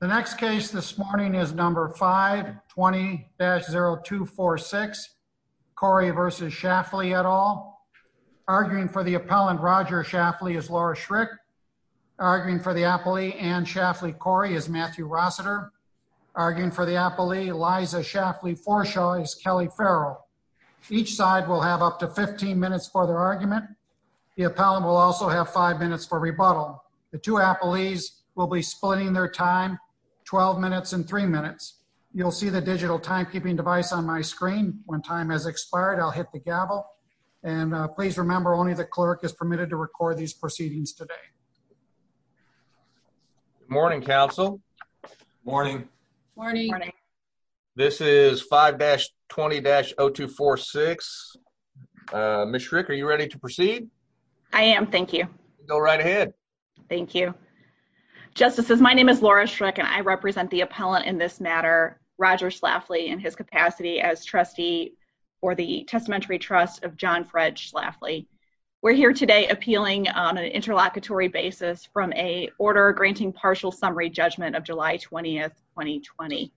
The next case this morning is number 520-0246, Cori v. Schlafly et al. Arguing for the appellant, Roger Schlafly, is Laura Schrick. Arguing for the appellee, Anne Schlafly-Cori, is Matthew Rossiter. Arguing for the appellee, Liza Schlafly-Forschow, is Kelly Farrell. Each side will have up to 15 minutes for their argument. The appellant will also have five minutes for rebuttal. The two appellees will be splitting their time 12 minutes and three minutes. You'll see the digital timekeeping device on my screen. When time has expired, I'll hit the gavel. And please remember only the clerk is permitted to record these proceedings today. Morning, counsel. Morning. Morning. This is 5-20-0246. Ms. Schrick, are you ready to proceed? I am, thank you. Go right ahead. Thank you. Justices, my name is Laura Schrick, and I represent the appellant in this matter, Roger Schlafly, in his capacity as trustee for the Testamentary Trust of John Fred Schlafly. We're here today appealing on an interlocutory basis from a order granting partial summary judgment of July 20th, 2020.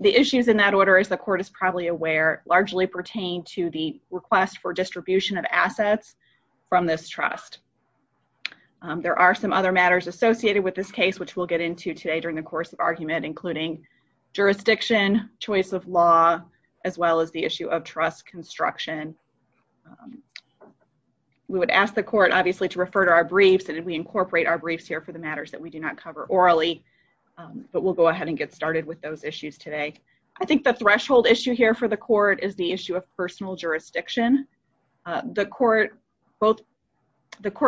The issues in that order, as the court is probably aware, largely pertain to the request for distribution of assets from this trust. There are some other matters associated with this case, which we'll get into today during the course of argument, including jurisdiction, choice of law, as well as the issue of trust construction. We would ask the court, obviously, to refer to our briefs, and we incorporate our briefs here for the matters that we do not cover orally. But we'll go ahead and get started with those issues today. I think the threshold issue here for the court is the issue of personal jurisdiction. The court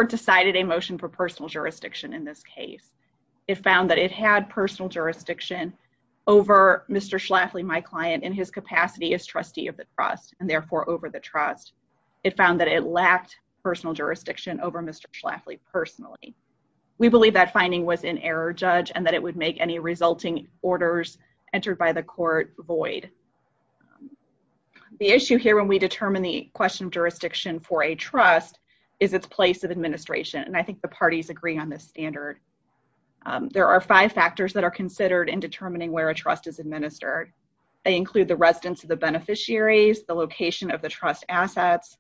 decided a motion for personal jurisdiction in this case. It found that it had personal jurisdiction over Mr. Schlafly, my client, in his capacity as trustee of the trust, and therefore over the trust. It found that it lacked personal jurisdiction over Mr. Schlafly personally. We believe that finding was in error, Judge, and that it would make any resulting orders entered by the court void. The issue here when we determine the question of jurisdiction for a trust is its place of administration, and I think the parties agree on this standard. There are five factors that are considered in determining where a trust is administered. They include the residence of the beneficiaries, the location of the trust assets,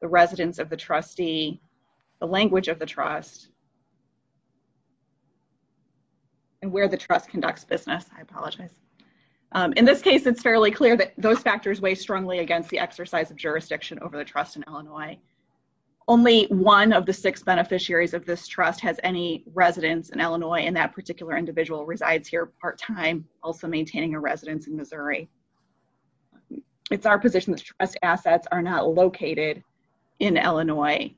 the residence of the trustee, the language of the trust, In this case, it's fairly straightforward. It's fairly clear that those factors weigh strongly against the exercise of jurisdiction over the trust in Illinois. Only one of the six beneficiaries of this trust has any residence in Illinois, and that particular individual resides here part-time, also maintaining a residence in Missouri. It's our position that trust assets are not located in Illinois.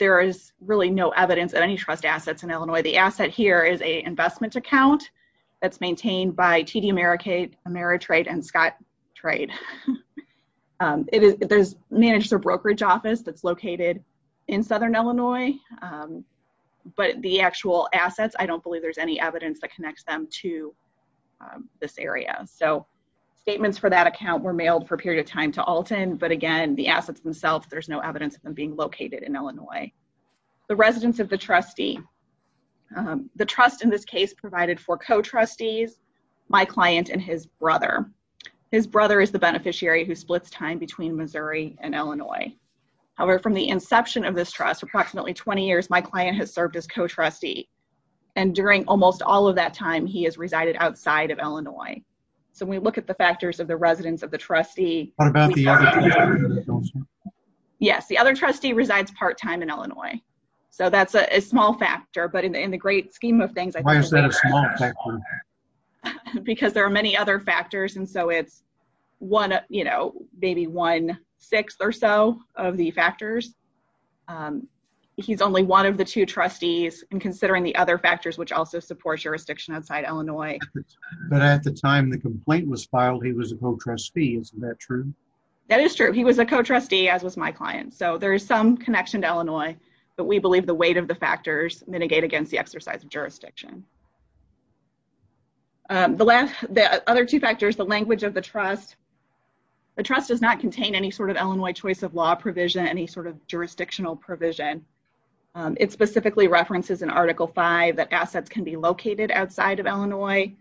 There is really no evidence of any trust assets in Illinois. The asset here is a investment account that's maintained by TD Ameritrade and Scott Trade. It manages a brokerage office that's located in Southern Illinois, but the actual assets, I don't believe there's any evidence that connects them to this area. So statements for that account were mailed for a period of time to Alton, but again, the assets themselves, there's no evidence of them being located in Illinois. The residence of the trustee. The trust in this case provided for co-trustees, my client, and his brother. His brother is the beneficiary who splits time between Missouri and Illinois. However, from the inception of this trust, approximately 20 years, my client has served as co-trustee, and during almost all of that time, he has resided outside of Illinois. So when we look at the factors of the residence of the trustee- What about the other trustee? Yes, the other trustee resides part-time in Illinois. So that's a small factor, but in the great scheme of things- Why is that a small factor? Because there are many other factors, and so it's maybe one-sixth or so of the factors. He's only one of the two trustees, and considering the other factors, which also supports jurisdiction outside Illinois. But at the time the complaint was filed, he was a co-trustee, isn't that true? That is true. He was a co-trustee, as was my client. So there is some connection to Illinois, but we believe the weight of the factors mitigate against the exercise of jurisdiction. The other two factors, the language of the trust. The trust does not contain any sort of Illinois choice of law provision, any sort of jurisdictional provision. It specifically references in Article V that assets can be located outside of Illinois,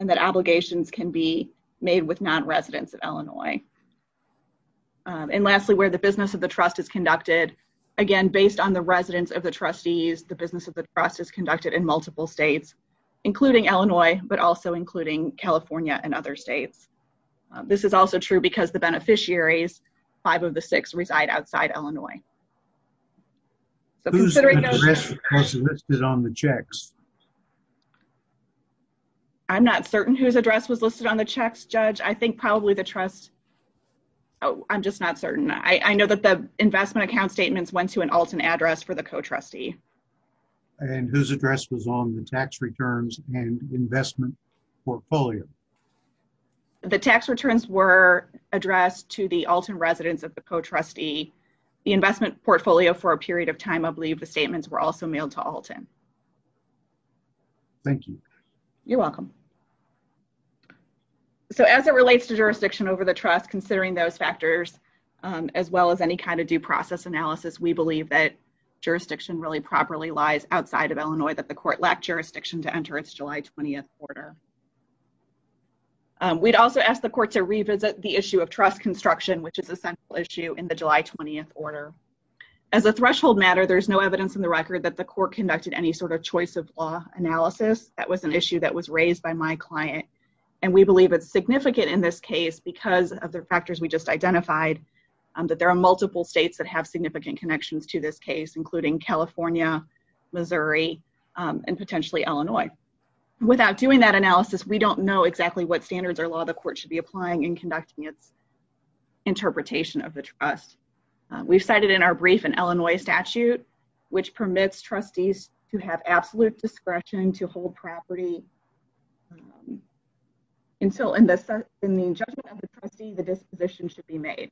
and that obligations can be made with non-residents of Illinois. And lastly, where the business of the trust is conducted. Again, based on the residence of the trustees, the business of the trust is conducted in multiple states, including Illinois, but also including California and other states. This is also true because the beneficiaries, five of the six reside outside Illinois. So considering those- Who's address was listed on the checks? I'm not certain whose address was listed on the checks, Judge. I think probably the trust. Oh, I'm just not certain. I know that the investment account statements went to an Alton address for the co-trustee. And whose address was on the tax returns and investment portfolio? The tax returns were addressed to the Alton residents of the co-trustee. The investment portfolio for a period of time, I believe the statements were also mailed to Alton. Thank you. You're welcome. So as it relates to jurisdiction over the trust, considering those factors, as well as any kind of due process analysis, we believe that jurisdiction really properly lies outside of Illinois, that the court lacked jurisdiction to enter its July 20th order. We'd also ask the court to revisit the issue of trust construction, which is a central issue in the July 20th order. As a threshold matter, there's no evidence in the record that the court conducted any sort of choice of law analysis. That was an issue that was raised by my client. And we believe it's significant in this case because of the factors we just identified, that there are multiple states that have significant connections to this case, including California, Missouri, and potentially Illinois. Without doing that analysis, we don't know exactly what standards or law the court should be applying in conducting its interpretation of the trust. We've cited in our brief in Illinois statute, which permits trustees to have absolute discretion to hold property until in the judgment of the trustee, the disposition should be made.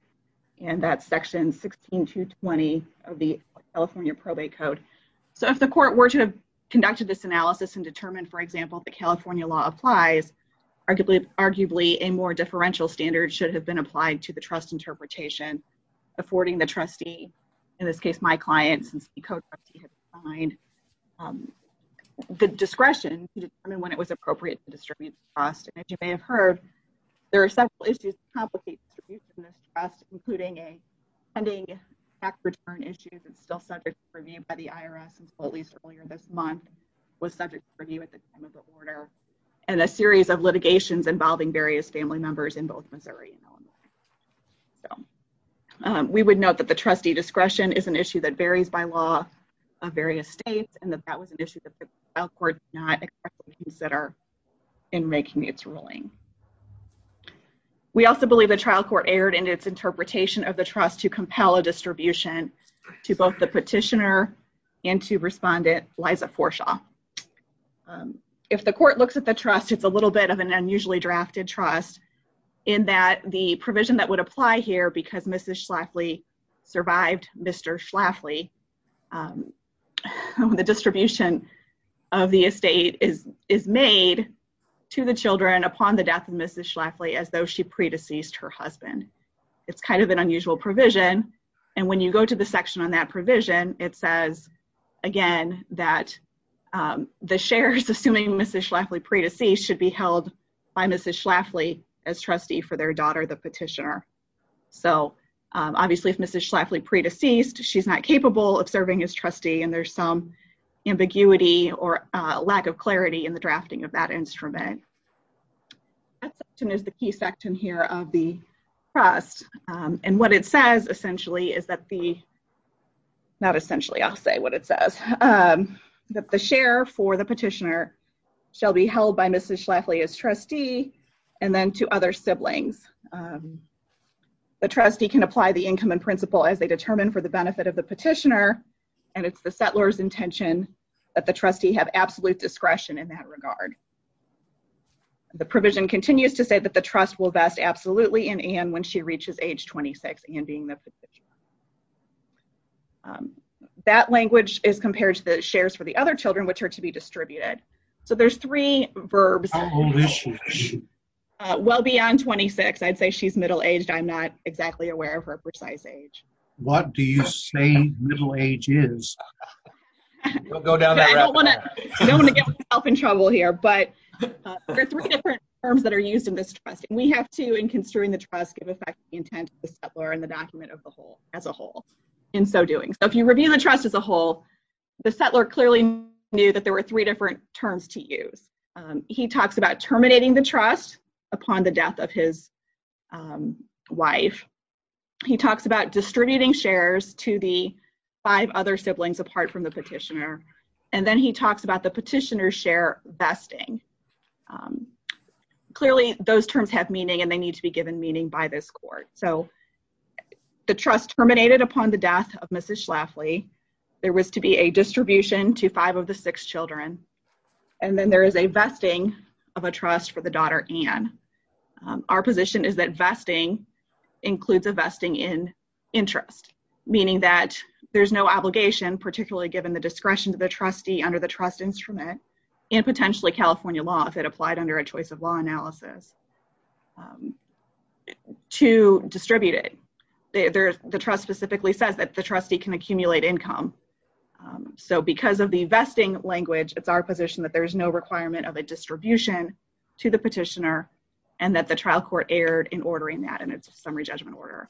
And that's section 16.220 of the California Probate Code. So if the court were to have conducted this analysis and determined, for example, if the California law applies, arguably a more differential standard should have been applied to the trust interpretation, affording the trustee, in this case, my client, since the co-trustee had defined the discretion And as you may have heard, there are several issues that complicate distribution of this trust, including a pending tax return issue that's still subject to review by the IRS, and so at least earlier this month was subject to review at the time of the order, and a series of litigations involving various family members in both Missouri and Illinois. We would note that the trustee discretion is an issue that varies by law of various states, and that that was an issue that the trial court did not exactly consider in making its ruling. We also believe the trial court erred in its interpretation of the trust to compel a distribution to both the petitioner and to respondent Liza Forshaw. If the court looks at the trust, it's a little bit of an unusually drafted trust in that the provision that would apply here because Mrs. Schlafly survived Mr. Schlafly, the distribution of the estate is made to the children upon the death of Mrs. Schlafly as though she pre-deceased her husband. It's kind of an unusual provision, and when you go to the section on that provision, it says again that the shares assuming Mrs. Schlafly pre-deceased should be held by Mrs. Schlafly as trustee for their daughter, the petitioner. So obviously if Mrs. Schlafly pre-deceased, she's not capable of serving as trustee, and there's some ambiguity or lack of clarity in the drafting of that instrument. That section is the key section here of the trust, and what it says essentially is that the, not essentially, I'll say what it says, that the share for the petitioner shall be held by Mrs. Schlafly as trustee, and then to other siblings. The trustee can apply the income and principle as they determine for the benefit of the petitioner, and it's the settler's intention that the trustee have absolute discretion in that regard. The provision continues to say that the trust will vest absolutely in Anne when she reaches age 26 and being the petitioner. That language is compared to the shares for the other children, which are to be distributed. So there's three verbs. How old is she? Well beyond 26. I'd say she's middle-aged. I'm not exactly aware of her precise age. What do you say middle age is? Don't go down that rabbit hole. I don't wanna get myself in trouble here, but there are three different terms that are used in this trust. We have to, in construing the trust, give effect to the intent of the settler and the document as a whole in so doing. So if you review the trust as a whole, the settler clearly knew that there were three different terms to use. He talks about terminating the trust upon the death of his wife. He talks about distributing shares to the five other siblings apart from the petitioner, and then he talks about the petitioner's share vesting. Clearly those terms have meaning and they need to be given meaning by this court. So the trust terminated upon the death of Mrs. Schlafly. There was to be a distribution to five of the six children, and then there is a vesting of a trust for the daughter, Anne. Our position is that vesting includes a vesting in interest, meaning that there's no obligation, particularly given the discretion to the trustee under the trust instrument, and potentially California law if it applied under a choice of law analysis, to distribute it. The trust specifically says that the trustee can accumulate income. So because of the vesting language, it's our position that there's no requirement of a distribution to the petitioner and that the trial court erred in ordering that in its summary judgment order.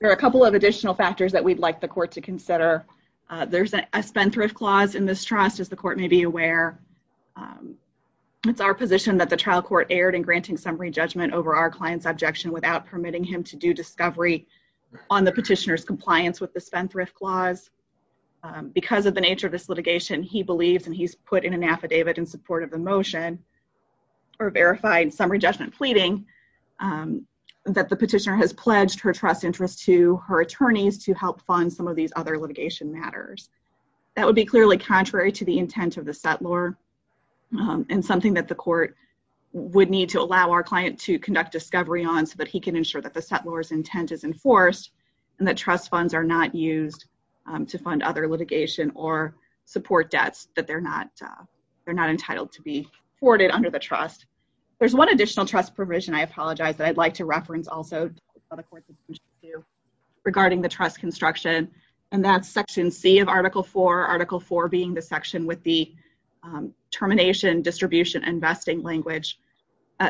There are a couple of additional factors that we'd like the court to consider. There's a spend-thrift clause in this trust, as the court may be aware. It's our position that the trial court erred in granting summary judgment over our client's objection without permitting him to do discovery on the petitioner's compliance with the spend-thrift clause. Because of the nature of this litigation, he believes, and he's put in an affidavit in support of the motion, or verified summary judgment pleading, that the petitioner has pledged her trust interest to her attorneys to help fund some of these other litigation matters. That would be clearly contrary to the intent of the settlor, and something that the court would need to allow our client to conduct discovery on so that he can ensure that the settlor's intent is enforced and that trust funds are not used to fund other litigation or support debts that they're not entitled to be afforded under the trust. There's one additional trust provision I apologize that I'd like to reference also that the court should do regarding the trust construction, and that's section C of article four, article four being the section with the termination, distribution, and vesting language.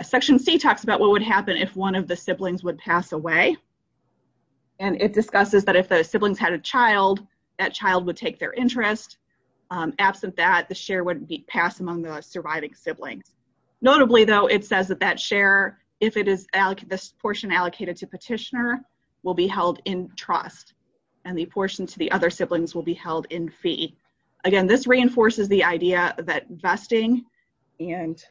Section C talks about what would happen if one of the siblings would pass away, and it discusses that if the siblings had a child, that child would take their interest. Absent that, the share wouldn't be passed among the surviving siblings. Notably though, it says that that share, if it is this portion allocated to petitioner, will be held in trust, and the portion to the other siblings will be held in fee. Again, this reinforces the idea that vesting and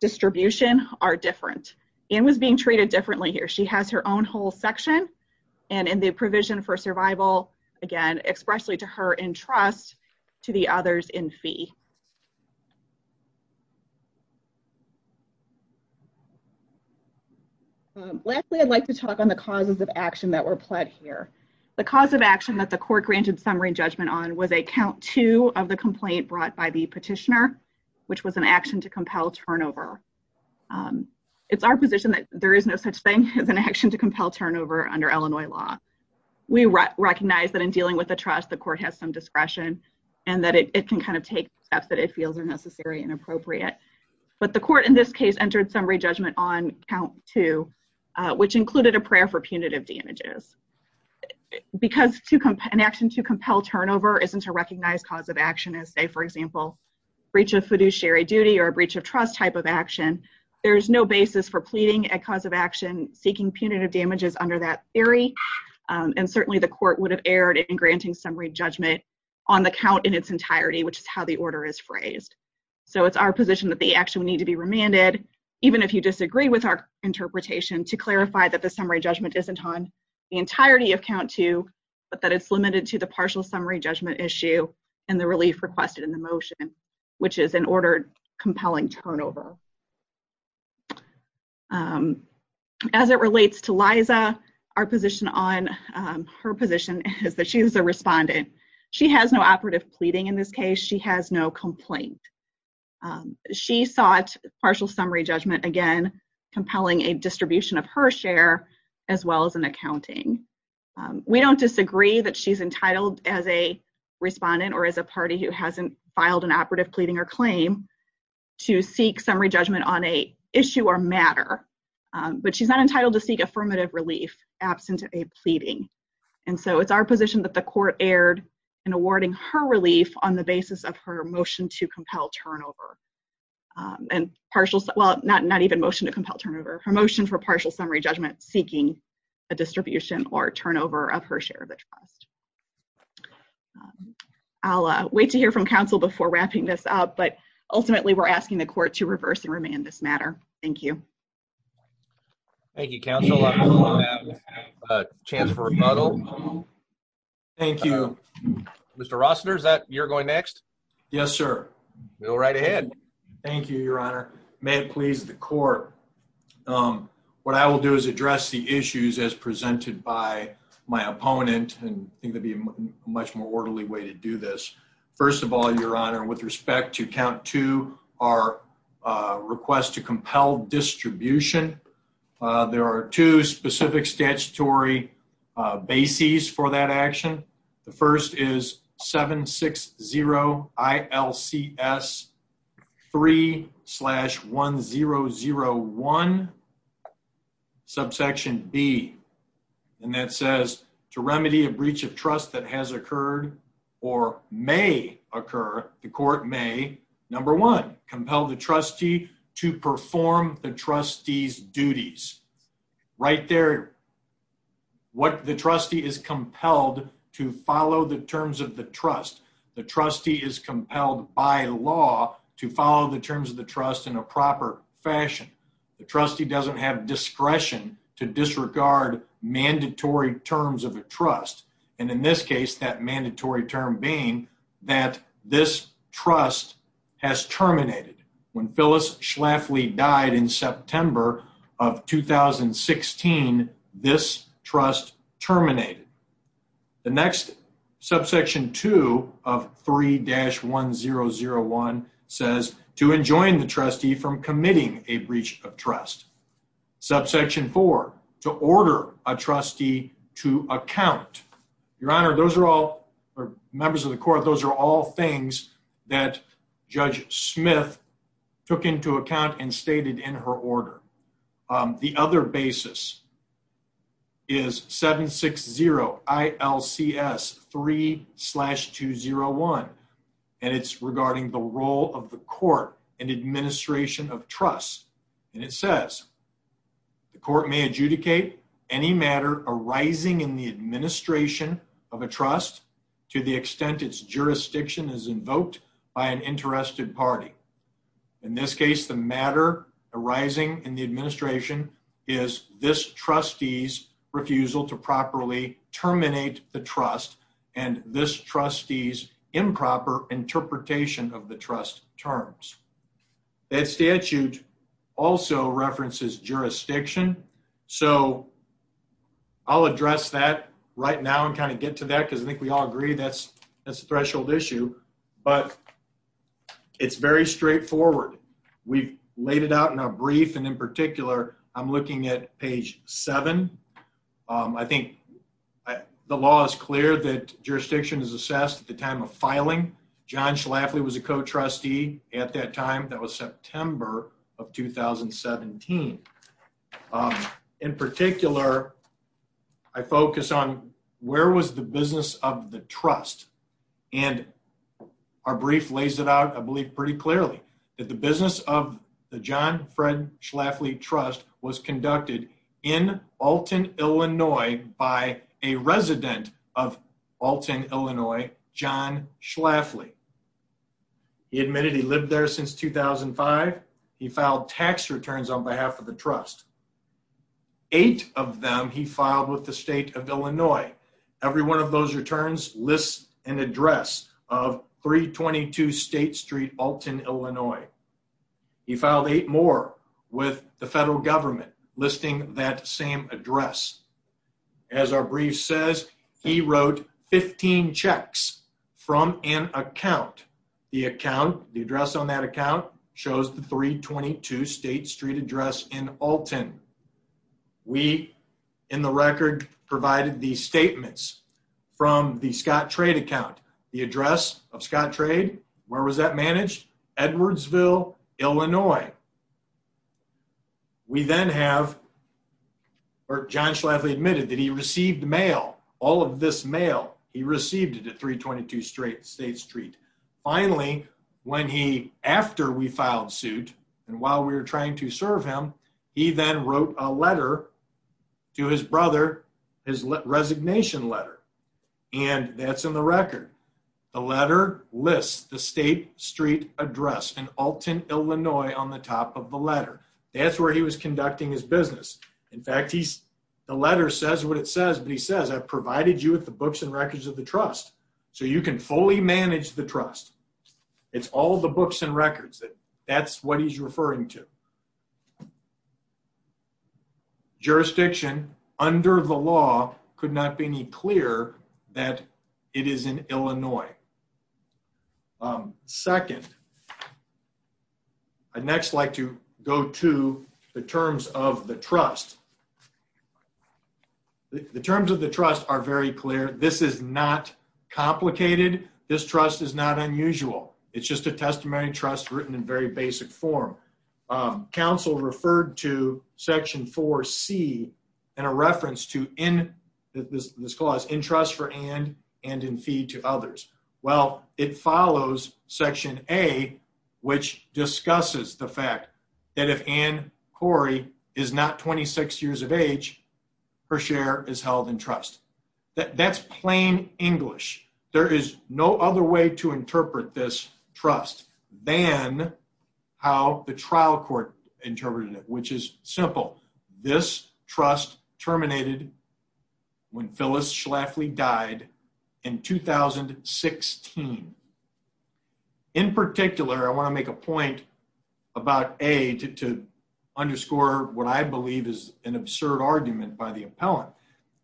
distribution are different. Anne was being treated differently here. She has her own whole section, and in the provision for survival, again, expressly to her in trust, to the others in fee. Lastly, I'd like to talk on the causes of action that were applied here. The cause of action that the court granted summary judgment on was a count two of the complaint brought by the petitioner, which was an action to compel turnover. It's our position that there is no such thing as an action to compel turnover under Illinois law. We recognize that in dealing with the trust, the court has some discretion, and that it can kind of take steps that it feels are necessary and appropriate. But the court in this case entered summary judgment on count two, which included a prayer for punitive damages. Because an action to compel turnover isn't a recognized cause of action, as say, for example, breach of fiduciary duty or a breach of trust type of action, there's no basis for pleading a cause of action seeking punitive damages under that theory. And certainly the court would have erred in granting summary judgment on the count in its entirety, which is how the order is phrased. So it's our position that the action would need to be remanded, even if you disagree with our interpretation to clarify that the summary judgment isn't on the entirety of count two, but that it's limited to the partial summary judgment issue and the relief requested in the motion, which is an ordered compelling turnover. As it relates to Liza, our position on her position is that she's a respondent. She has no operative pleading in this case. She has no complaint. She sought partial summary judgment, again, compelling a distribution of her share as well as an accounting. We don't disagree that she's entitled as a respondent or as a party who hasn't filed an operative pleading or claim to seek summary judgment on a issue or matter, but she's not entitled to seek affirmative relief absent a pleading. And so it's our position that the court erred in awarding her relief on the basis of her motion to compel turnover and partial, well, not even motion to compel turnover, her motion for partial summary judgment seeking a distribution or turnover of her share of the trust. I'll wait to hear from counsel before wrapping this up, but ultimately we're asking the court to reverse and remand this matter. Thank you. Thank you, counsel. I have a chance for a rebuttal. Thank you. Mr. Rossiter, is that you're going next? Yes, sir. Go right ahead. Thank you, your honor. May it please the court. What I will do is address the issues as presented by my opponent and I think that'd be a much more orderly way to do this. First of all, your honor, with respect to count two, our request to compel distribution, there are two specific statutory bases for that action. The first is 760 ILCS 3 slash 1001, subsection B, and that says to remedy a breach of trust that has occurred or may occur, the court may, number one, compel the trustee to perform the trustee's duties. Right there, what the trustee is compelled to follow the terms of the trust. The trustee is compelled by law to follow the terms of the trust in a proper fashion. The trustee doesn't have discretion to disregard mandatory terms of a trust. And in this case, that mandatory term being that this trust has terminated. When Phyllis Schlafly died in September of 2016, this trust terminated. The next subsection two of 3 dash 1001 says, to enjoin the trustee from committing a breach of trust. Subsection four, to order a trustee to account. Your Honor, those are all, or members of the court, those are all things that Judge Smith took into account and stated in her order. The other basis is 760 ILCS 3 slash 201, and it's regarding the role of the court and administration of trust. And it says, the court may adjudicate any matter arising in the administration of a trust to the extent its jurisdiction is invoked by an interested party. In this case, the matter arising in the administration is this trustee's refusal to properly terminate the trust and this trustee's improper interpretation of the trust terms. That statute also references jurisdiction. So I'll address that right now and kind of get to that, because I think we all agree that's a threshold issue, but it's very straightforward. We've laid it out in our brief, and in particular, I'm looking at page seven. I think the law is clear that jurisdiction is assessed at the time of filing. John Schlafly was a co-trustee at that time. That was September of 2017. In particular, I focus on where was the business of the trust? And our brief lays it out, I believe pretty clearly, that the business of the John Fred Schlafly Trust was conducted in Alton, Illinois, by a resident of Alton, Illinois, John Schlafly. He admitted he lived there since 2005. He filed tax returns on behalf of the trust. Eight of them he filed with the state of Illinois. Every one of those returns lists an address of 322 State Street, Alton, Illinois. He filed eight more with the federal government, listing that same address. As our brief says, he wrote 15 checks from an account. The account, the address on that account shows the 322 State Street address in Alton. We, in the record, provided the statements from the Scott Trade account. The address of Scott Trade, where was that managed? Edwardsville, Illinois. We then have, or John Schlafly admitted that he received mail, all of this mail, he received it at 322 State Street. Finally, when he, after we filed suit, and while we were trying to serve him, he then wrote a letter to his brother, his resignation letter, and that's in the record. The letter lists the State Street address in Alton, Illinois, on the top of the letter. That's where he was conducting his business. In fact, the letter says what it says, but he says, I've provided you with the books and records of the trust, so you can fully manage the trust. It's all the books and records. That's what he's referring to. Jurisdiction under the law could not be any clearer that it is in Illinois. Second, I'd next like to go to the terms of the trust. The terms of the trust are very clear. This is not complicated. This trust is not unusual. It's just a testimony trust written in very basic form. Counsel referred to section 4C in a reference to, this clause, in trust for Ann and in feed to others. Well, it follows section A, which discusses the fact that if Ann Corey is not 26 years of age, her share is held in trust. That's plain English. There is no other way to interpret this trust than how the trial court interpreted it, which is simple. This trust terminated when Phyllis Schlafly died in 2016. In particular, I wanna make a point about A, to underscore what I believe is an absurd argument by the appellant,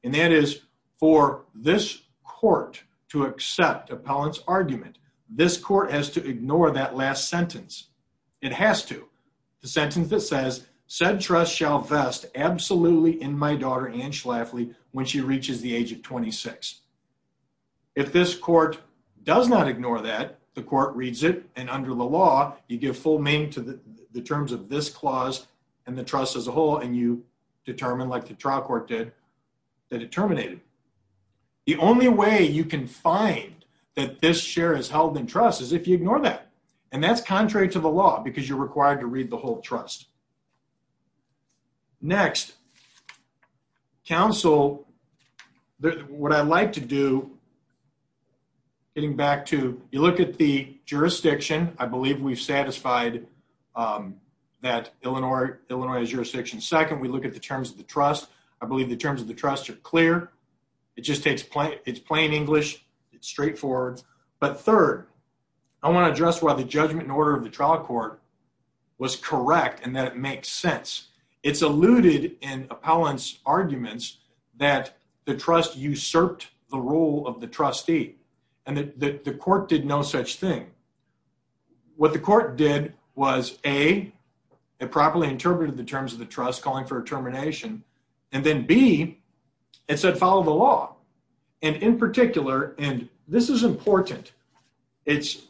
and that is for this court to accept appellant's argument, this court has to ignore that last sentence. It has to. The sentence that says, said trust shall vest absolutely in my daughter, Ann Schlafly, when she reaches the age of 26. If this court does not ignore that, the court reads it, and under the law, you give full name to the terms of this clause and the trust as a whole, and you determine, like the trial court did, that it terminated. The only way you can find that this share is held in trust is if you ignore that, and that's contrary to the law, because you're required to read the whole trust. Next, counsel, what I like to do, getting back to, you look at the jurisdiction. I believe we've satisfied that Illinois is jurisdiction second. We look at the terms of the trust. I believe the terms of the trust are clear. It just takes, it's plain English. It's straightforward, but third, I wanna address why the judgment and order of the trial court was correct, and that it makes sense. It's alluded in appellant's arguments that the trust usurped the role of the trustee, and that the court did no such thing. What the court did was, A, it properly interpreted the terms of the trust, calling for a termination, and then B, it said, follow the law, and in particular, and this is important, it's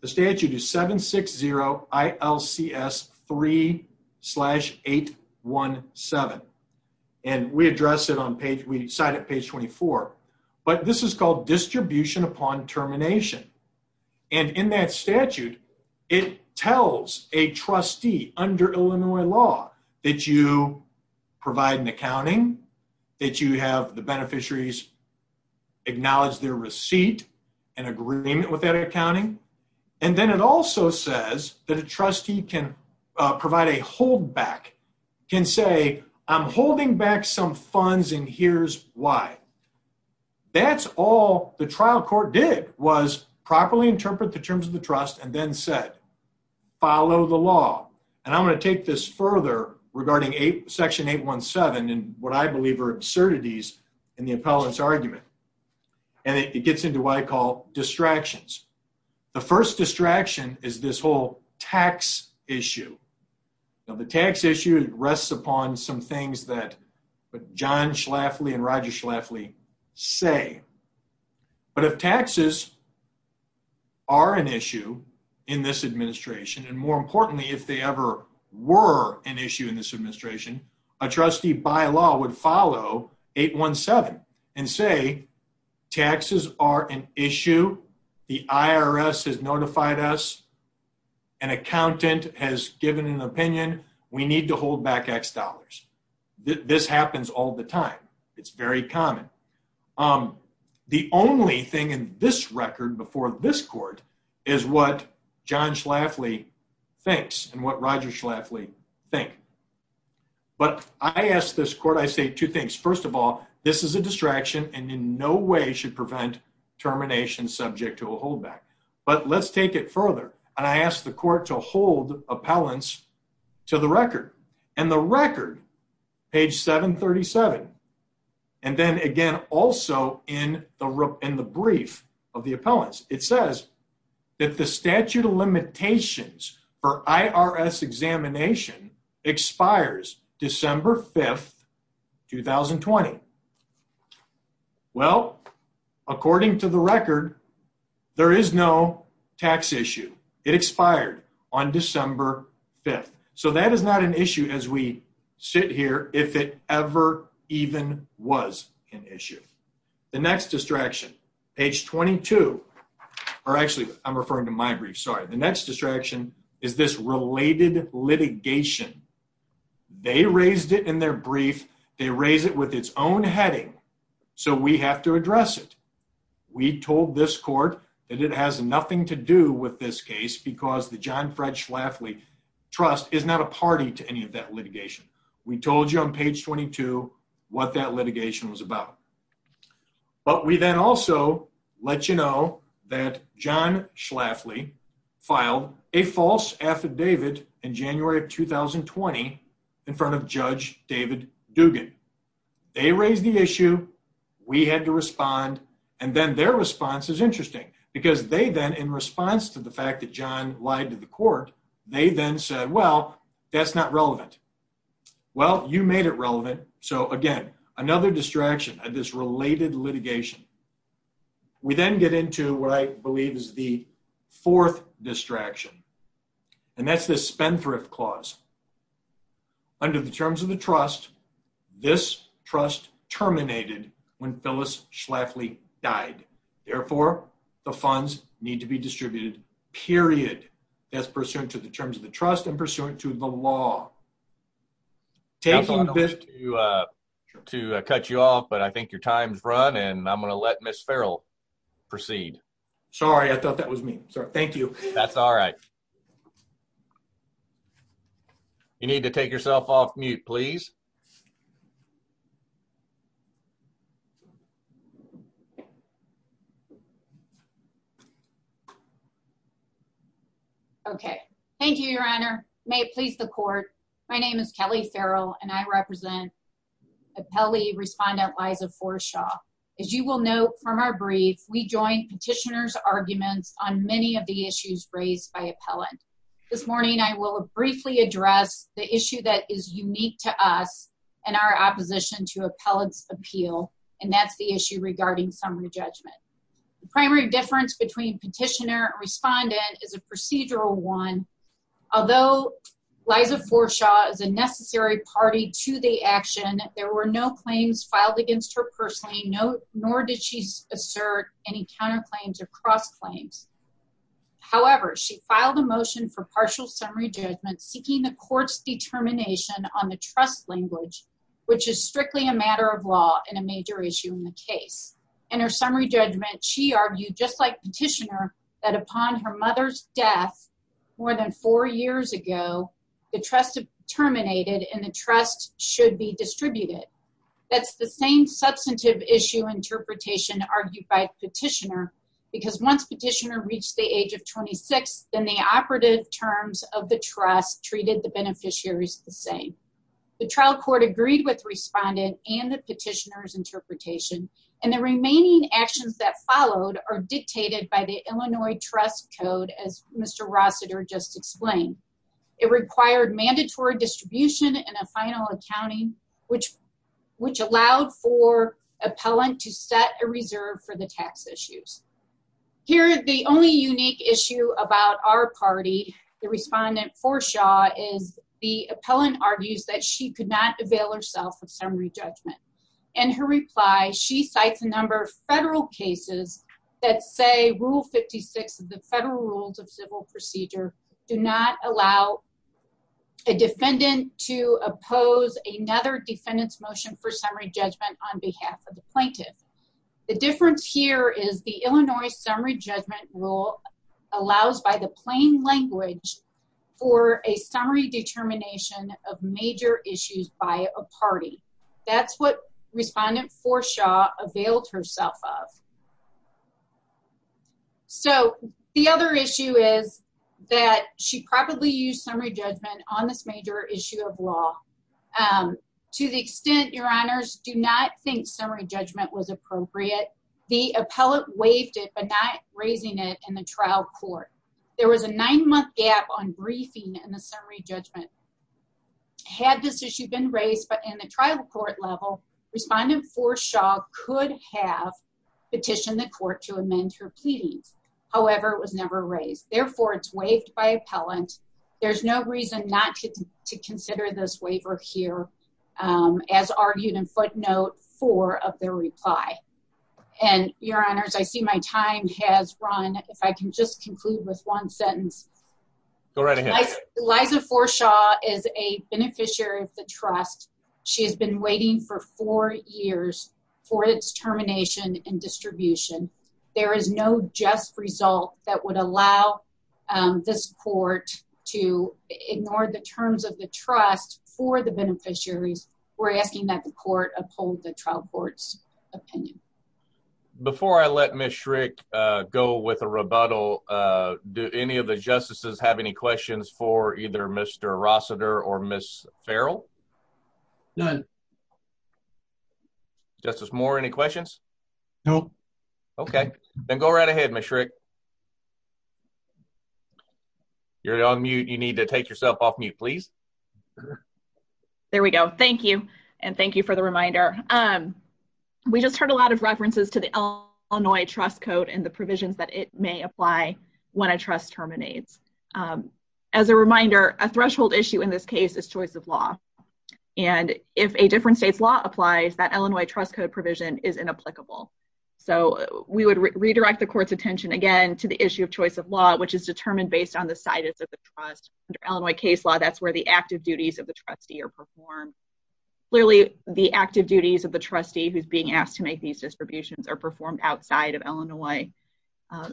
the statute is 760-ILCS3-817, and we address it on page, we cite it page 24, but this is called distribution upon termination, and in that statute, it tells a trustee under Illinois law that you provide an accounting, that you have the beneficiaries acknowledge their receipt and agreement with that accounting, and then it also says that a trustee can provide a holdback, can say, I'm holding back some funds, and here's why. That's all the trial court did, was properly interpret the terms of the trust, and then said, follow the law, and I'm gonna take this further regarding section 817, and what I believe are absurdities in the appellant's argument, and it gets into what I call distractions. The first distraction is this whole tax issue. Now, the tax issue rests upon some things that John Schlafly and Roger Schlafly say, but if taxes are an issue in this administration, and more importantly, if they ever were an issue in this administration, a trustee by law would follow 817 and say, taxes are an issue, the IRS has notified us, an accountant has given an opinion, we need to hold back X dollars. This happens all the time, it's very common. The only thing in this record before this court is what John Schlafly thinks, and what Roger Schlafly think, but I ask this court, I say two things. First of all, this is a distraction, and in no way should prevent termination subject to a holdback, but let's take it further, and I ask the court to hold appellants to the record, and the record, page 737, and then again also in the brief of the appellants, it says that the statute of limitations for IRS examination expires December 5th, 2020. Well, according to the record, there is no tax issue. It expired on December 5th, so that is not an issue as we sit here, if it ever even was an issue. The next distraction, page 22, or actually, I'm referring to my brief, sorry. The next distraction is this related litigation. They raised it in their brief, they raise it with its own heading, so we have to address it. We told this court that it has nothing to do with this case because the John Fred Schlafly Trust is not a party to any of that litigation. We told you on page 22 what that litigation was about, but we then also let you know that John Schlafly filed a false affidavit in January of 2020 in front of Judge David Dugan. They raised the issue, we had to respond, and then their response is interesting because they then, in response to the fact that John lied to the court, they then said, well, that's not relevant. Well, you made it relevant, so again, another distraction of this related litigation. We then get into what I believe is the fourth distraction, and that's this Spendthrift Clause. Under the terms of the trust, this trust terminated when Phyllis Schlafly died. Therefore, the funds need to be distributed, period. That's pursuant to the terms of the trust and pursuant to the law. Taking this- I thought I was going to cut you off, but I think your time's run, and I'm gonna let Ms. Farrell proceed. Sorry, I thought that was me. Sorry, thank you. That's all right. Thank you. You need to take yourself off mute, please. Okay, thank you, Your Honor. May it please the court. My name is Kelly Farrell, and I represent appellee respondent Liza Forshaw. we joined petitioners' arguments on many of the issues raised by appellant. This morning, I will briefly address the issue that is unique to us and our opposition to appellant's appeal, and that's the issue regarding summary judgment. The primary difference between petitioner and respondent is a procedural one. Although Liza Forshaw is a necessary party to the action, there were no claims filed against her personally, nor did she assert any counterclaims or cross-claims. However, she filed a motion for partial summary judgment seeking the court's determination on the trust language, which is strictly a matter of law and a major issue in the case. In her summary judgment, she argued just like petitioner that upon her mother's death more than four years ago, the trust terminated and the trust should be distributed. That's the same substantive issue interpretation argued by petitioner, because once petitioner reached the age of 26, then the operative terms of the trust treated the beneficiaries the same. The trial court agreed with respondent and the petitioner's interpretation, and the remaining actions that followed are dictated by the Illinois Trust Code as Mr. Rossiter just explained. It required mandatory distribution and a final accounting, which allowed for appellant to set a reserve for the tax issues. Here, the only unique issue about our party, the respondent for Shaw is the appellant argues that she could not avail herself of summary judgment. In her reply, she cites a number of federal cases that say rule 56 of the federal rules of civil procedure do not allow a defendant to oppose another defendant's motion for summary judgment on behalf of the plaintiff. The difference here is the Illinois summary judgment rule allows by the plain language for a summary determination of major issues by a party. That's what respondent for Shaw availed herself of. So the other issue is that she probably used summary judgment on this major issue of law. To the extent, your honors, do not think summary judgment was appropriate. The appellant waived it, but not raising it in the trial court. There was a nine month gap on briefing in the summary judgment. Had this issue been raised, but in the trial court level, respondent for Shaw could have petitioned the court to amend her pleadings. However, it was never raised. Therefore it's waived by appellant. There's no reason not to consider this waiver here as argued in footnote four of their reply. And your honors, I see my time has run. If I can just conclude with one sentence. Go right ahead. Liza for Shaw is a beneficiary of the trust. She has been waiting for four years for its termination and distribution. There is no just result that would allow this court to ignore the terms of the trust for the beneficiaries. We're asking that the court uphold the trial court's opinion. Before I let Ms. Schrick go with a rebuttal, do any of the justices have any questions for either Mr. Rossiter or Ms. Farrell? None. Justice Moore, any questions? No. Okay, then go right ahead Ms. Schrick. You're on mute. You need to take yourself off mute, please. There we go. Thank you. And thank you for the reminder. We just heard a lot of references to the Illinois trust code and the provisions that it may apply when a trust terminates. As a reminder, a threshold issue in this case is choice of law. And if a different state's law applies, that Illinois trust code provision is inapplicable. So we would redirect the court's attention again to the issue of choice of law, which is determined based on the situs of the trust. Under Illinois case law, that's where the active duties of the trustee are performed. Clearly, the active duties of the trustee who's being asked to make these distributions are performed outside of Illinois.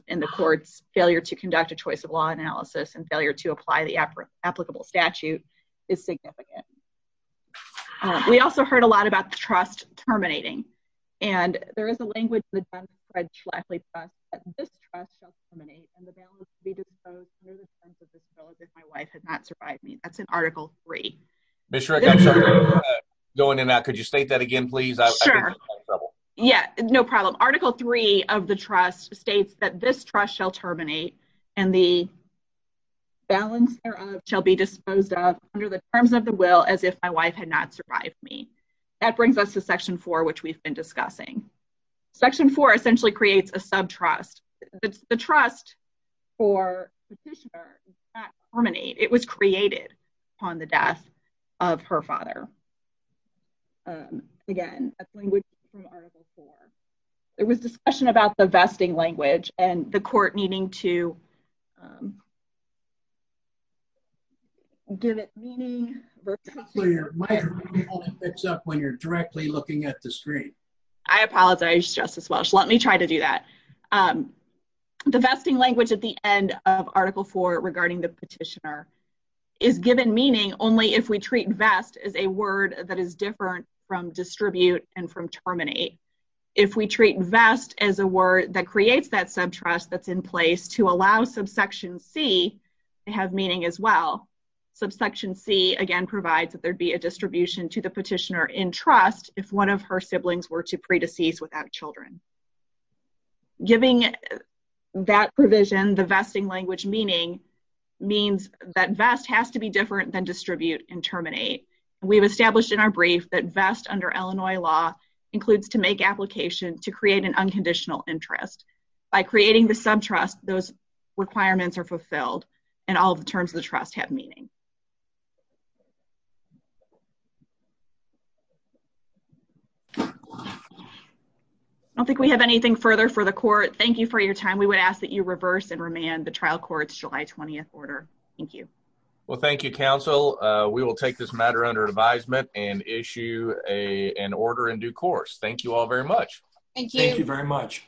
And the court's failure to conduct a choice of law analysis and failure to apply the applicable statute is significant. We also heard a lot about the trust terminating. And there is a language that John Fred Schlafly passed that this trust shall terminate and the balance to be disposed near the expense of this village if my wife had not survived me. That's in article three. Ms. Schrick, I'm sorry. Going in and out. Could you state that again, please? I think I'm having trouble. Yeah, no problem. Article three of the trust states that this trust shall terminate and the balance thereof shall be disposed of under the terms of the will as if my wife had not survived me. That brings us to section four, which we've been discussing. Section four essentially creates a subtrust. The trust for the petitioner does not terminate. It was created upon the death of her father. Again, that's language from article four. There was discussion about the vesting language and the court needing to give it meaning. My computer only picks up when you're directly looking at the screen. I apologize, Justice Welch. Let me try to do that. The vesting language at the end of article four regarding the petitioner is given meaning only if we treat vest as a word that is different from distribute and from terminate. If we treat vest as a word that creates that subtrust that's in place to allow subsection C to have meaning as well. Subsection C, again, provides that there'd be a distribution to the petitioner in trust if one of her siblings were to pre-decease without children. Giving that provision the vesting language meaning means that vest has to be different than distribute and terminate. We've established in our brief that vest under Illinois law includes to make application to create an unconditional interest. By creating the subtrust those requirements are fulfilled and all the terms of the trust have meaning. I don't think we have anything further for the court. Thank you for your time. We would ask that you reverse and remand the trial court's July 20th order. Thank you. Well, thank you, counsel. We will take this matter under advisement and issue an order in due course. Thank you all very much. Thank you. Thank you very much.